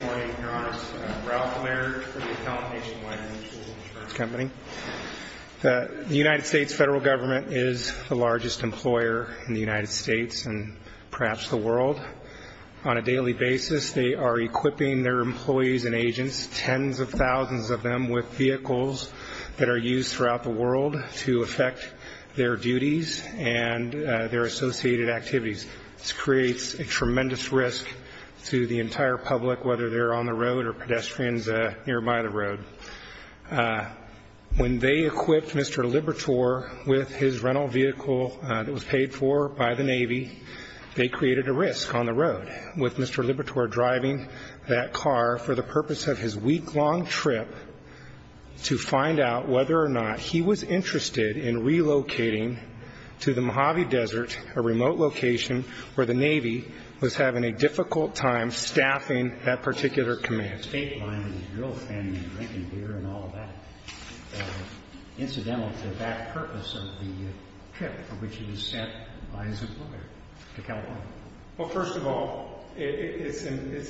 The United States Federal Government is the largest employer in the United States and perhaps the world. On a daily basis they are equipping their employees and agents, tens of thousands of them, with vehicles that are used throughout the world to affect their duties and their associated activities. This creates a tremendous risk to the entire public whether they're on the road or pedestrians nearby the road. When they equipped Mr. Liberatore with his rental vehicle that was paid for by the Navy, they created a risk on the road with Mr. Liberatore driving that car for the purpose of his week-long trip to find out whether or not he was interested in relocating to the Mojave Desert, a remote location where the Navy was having a difficult time staffing that particular command. The state line is a real thing, drinking beer and all of that. Incidental to that purpose of the trip for which he was sent by his employer to California. Well, first of all, it's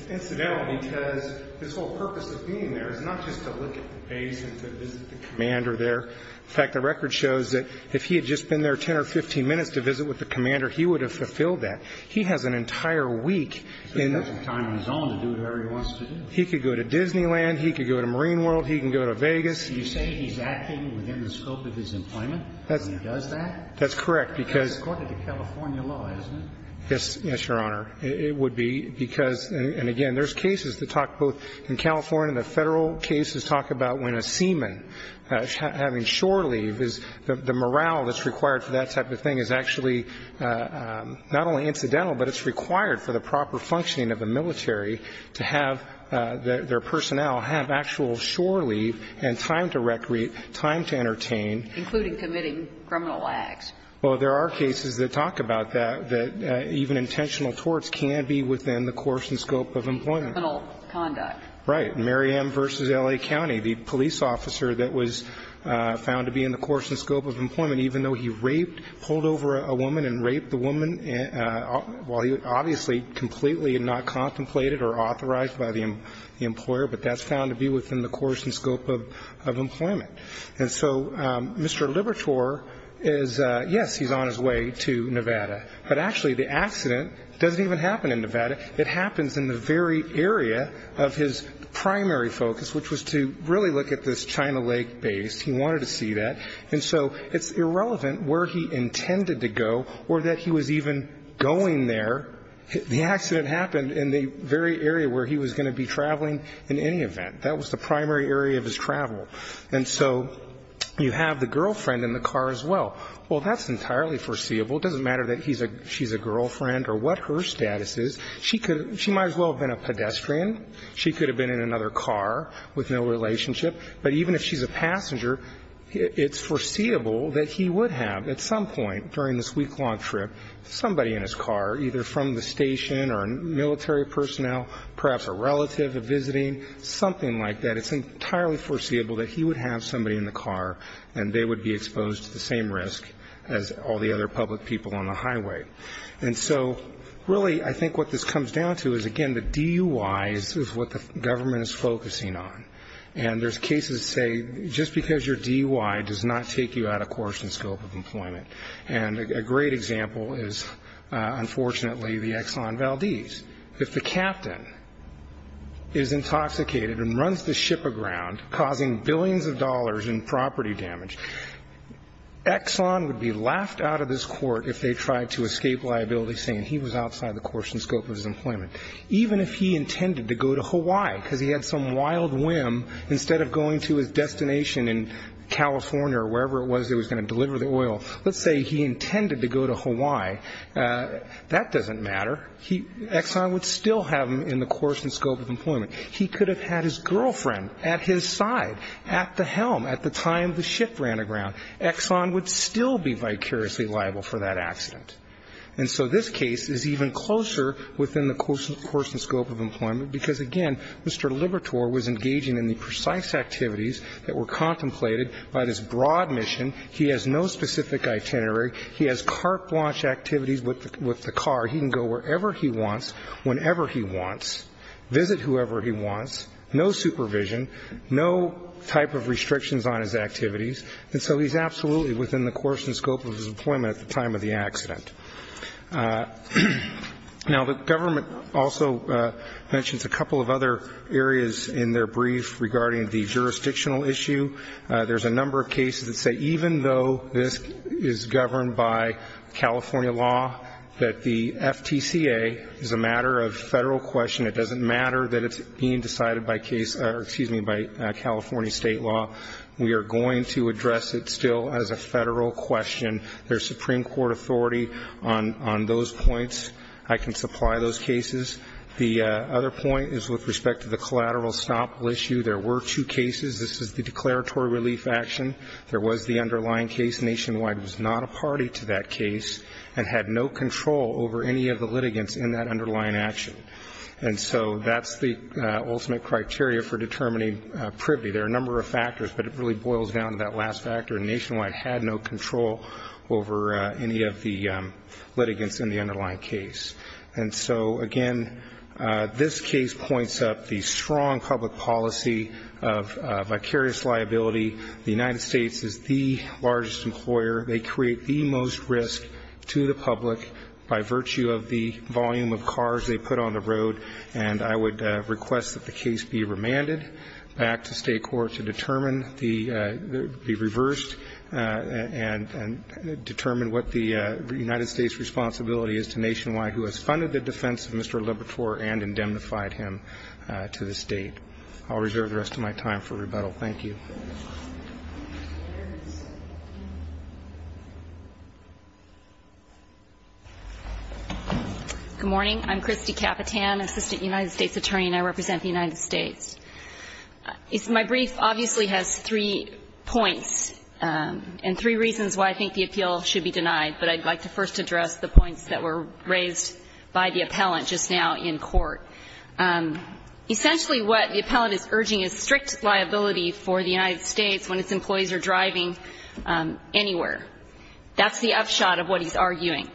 incidental because his whole purpose of being there is not just to look at the base and to visit the commander there. In fact, the record shows that if he had just been there 10 or 15 minutes to visit with the commander, he would have fulfilled that. He has an entire week in the room. So he doesn't have time on his own to do whatever he wants to do? He could go to Disneyland. He could go to Marine World. He can go to Vegas. You say he's acting within the scope of his employment when he does that? That's correct, because... That's according to California law, isn't it? Yes, Your Honor. It would be because, and again, there's cases that talk both in California and the Federal cases talk about when a seaman having shore leave, the morale that's not only incidental, but it's required for the proper functioning of the military to have their personnel have actual shore leave and time to recreate, time to entertain. Including committing criminal acts. Well, there are cases that talk about that, that even intentional torts can be within the course and scope of employment. Criminal conduct. Right. Mary M. v. L.A. County, the police officer that was found to be in the course and scope of employment, even though he raped, pulled over a woman and raped the woman, while he obviously completely had not contemplated or authorized by the employer, but that's found to be within the course and scope of employment. And so, Mr. Libertor is, yes, he's on his way to Nevada. But actually, the accident doesn't even happen in Nevada. It happens in the very area of his primary focus, which was to really look at this China Lake base. He wanted to see that. And so, it's irrelevant where he intended to go or that he was even going there. The accident happened in the very area where he was going to be traveling in any event. That was the primary area of his travel. And so, you have the girlfriend in the car as well. Well, that's entirely foreseeable. It doesn't matter that she's a girlfriend or what her status is. She might as well have been a pedestrian. She could have been in another car with no relationship. But even if she's a passenger, it's foreseeable that he would have, at some point during this week-long trip, somebody in his car, either from the station or military personnel, perhaps a relative of visiting, something like that. It's entirely foreseeable that he would have somebody in the car and they would be exposed to the same risk as all the other public people on the highway. And so, really, I think what this comes down to is, again, the DUI is what the government is focusing on. And there's cases that say, just because you're DUI does not take you out of course and scope of employment. And a great example is, unfortunately, the Exxon Valdez. If the captain is intoxicated and runs the ship aground, causing billions of dollars in property damage, Exxon would be laughed out of this court if they tried to escape liability saying he was outside the course and scope of his employment. Even if he intended to go to Hawaii, because he had some wild whim, instead of going to his destination in California or wherever it was he was going to deliver the oil, let's say he intended to go to Hawaii, that doesn't matter. Exxon would still have him in the course and scope of employment. He could have had his girlfriend at his side, at the helm, at the time the ship ran aground. Exxon would still be vicariously liable for that accident. And so this case is even closer within the course and scope of employment, because, again, Mr. Libertor was engaging in the precise activities that were contemplated by this broad mission. He has no specific itinerary. He has carte blanche activities with the car. He can go wherever he wants, whenever he wants, visit whoever he wants, no supervision, no type of restrictions on his activities. And so he's absolutely within the course and scope of his employment at the time of the accident. Now, the government also mentions a couple of other areas in their brief regarding the jurisdictional issue. There's a number of cases that say even though this is governed by California law, that the FTCA is a matter of federal question. It doesn't matter that it's being decided by California state law. We are going to address it still as a federal question. There's Supreme Court authority on those points. I can supply those cases. The other point is with respect to the collateral estoppel issue. There were two cases. This is the declaratory relief action. There was the underlying case. Nationwide was not a party to that case and had no control over any of the litigants in that underlying action. And so that's the ultimate criteria for determining privity. There are a number of factors, but it really boils down to that last factor. Nationwide had no control over any of the litigants in the underlying case. And so, again, this case points up the strong public policy of vicarious liability. The United States is the largest employer. They create the most risk to the public by virtue of the volume of cars they put on the road. And I would request that the case be remanded back to state court to determine the reverse and determine what the United States' responsibility is to Nationwide, who has funded the defense of Mr. Libertor and indemnified him to this date. I'll reserve the rest of my time for rebuttal. Thank you. Good morning. I'm Christy Capitan, Assistant United States Attorney, and I represent the United States. My brief obviously has three points and three reasons why I think the appeal should be denied. But I'd like to first address the points that were raised by the appellant just now in court. Essentially what the appellant is urging is strict liability for the United States when its employees are driving anywhere. That's the upshot of what he's arguing.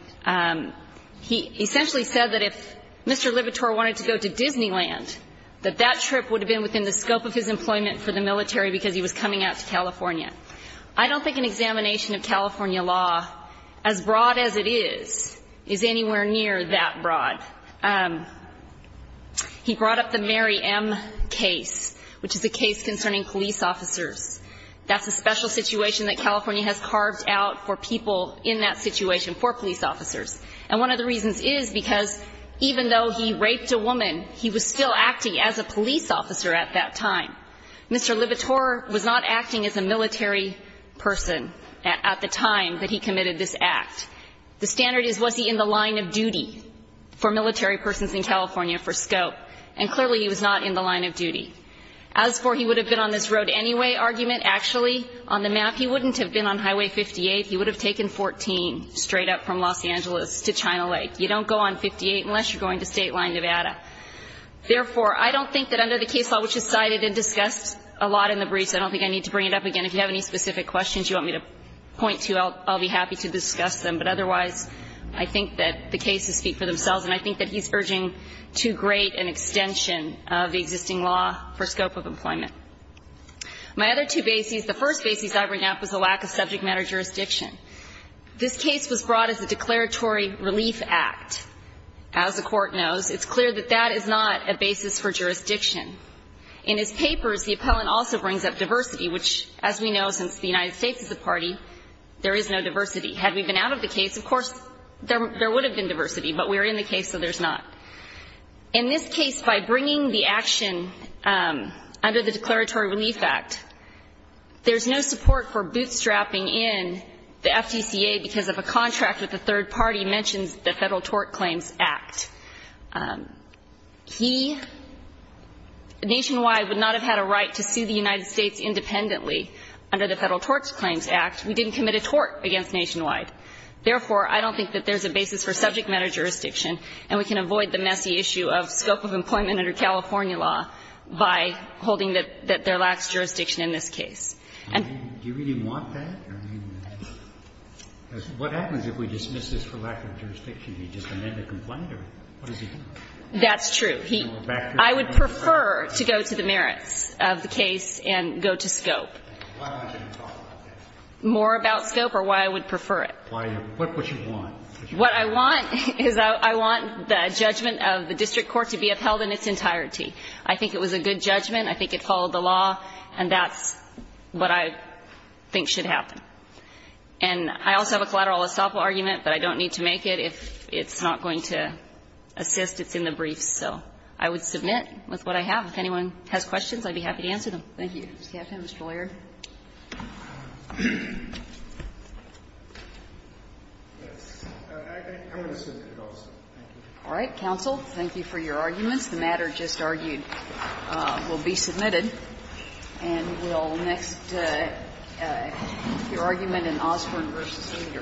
He essentially said that if Mr. Libertor wanted to go to Disneyland, that that trip would have been within the scope of his employment for the military because he was coming out to California. I don't think an examination of California law, as broad as it is, is anywhere near that broad. He brought up the Mary M. case, which is a case concerning police officers. That's a special situation that California has carved out for people in that situation, for police officers. And one of the reasons is because even though he raped a woman, he was still acting as a police officer at that time. Mr. Libertor was not acting as a military person at the time that he committed this act. The standard is, was he in the line of duty for military persons in California for scope? And clearly he was not in the line of duty. As for he would have been on this road anyway argument, actually, on the map, he wouldn't have been on Highway 58. He would have taken 14 straight up from Los Angeles to China Lake. You don't go on 58 unless you're going to State Line Nevada. Therefore, I don't think that under the case law, which is cited and discussed a lot in the briefs, I don't think I need to bring it up again. If you have any specific questions you want me to point to, I'll be happy to discuss them. But otherwise, I think that the cases speak for themselves. And I think that he's urging too great an extension of the existing law for scope of employment. My other two bases, the first bases I bring up is the lack of subject matter jurisdiction. This case was brought as a declaratory relief act. As the Court knows, it's clear that that is not a basis for jurisdiction. In his papers, the appellant also brings up diversity, which, as we know, since the United States is a party, there is no diversity. Had we been out of the case, of course, there would have been diversity. But we're in the case, so there's not. In this case, by bringing the action under the declaratory relief act, there's no support for bootstrapping in the FDCA because of a contract that the third party mentions, the Federal Tort Claims Act. He, nationwide, would not have had a right to sue the United States independently under the Federal Tort Claims Act. We didn't commit a tort against nationwide. Therefore, I don't think that there's a basis for subject matter jurisdiction, and we can avoid the messy issue of scope of employment under California law by holding that there lacks jurisdiction in this case. And do you really want that? I mean, what happens if we dismiss this for lack of jurisdiction? Do you just amend the complaint, or what does he do? That's true. I would prefer to go to the merits of the case and go to scope. Why aren't you going to talk about that? More about scope or why I would prefer it. What would you want? What I want is I want the judgment of the district court to be upheld in its entirety. I think it was a good judgment. I think it followed the law, and that's what I think should happen. And I also have a collateral estoppel argument, but I don't need to make it. If it's not going to assist, it's in the briefs. So I would submit with what I have. If anyone has questions, I'd be happy to answer them. Thank you. Ms. Gaffney, Mr. Laird. Yes. I'm going to submit it also. Thank you. All right. Counsel, thank you for your arguments. The matter just argued will be submitted. And we'll next get your argument in Osborne v. Reader. Thank you.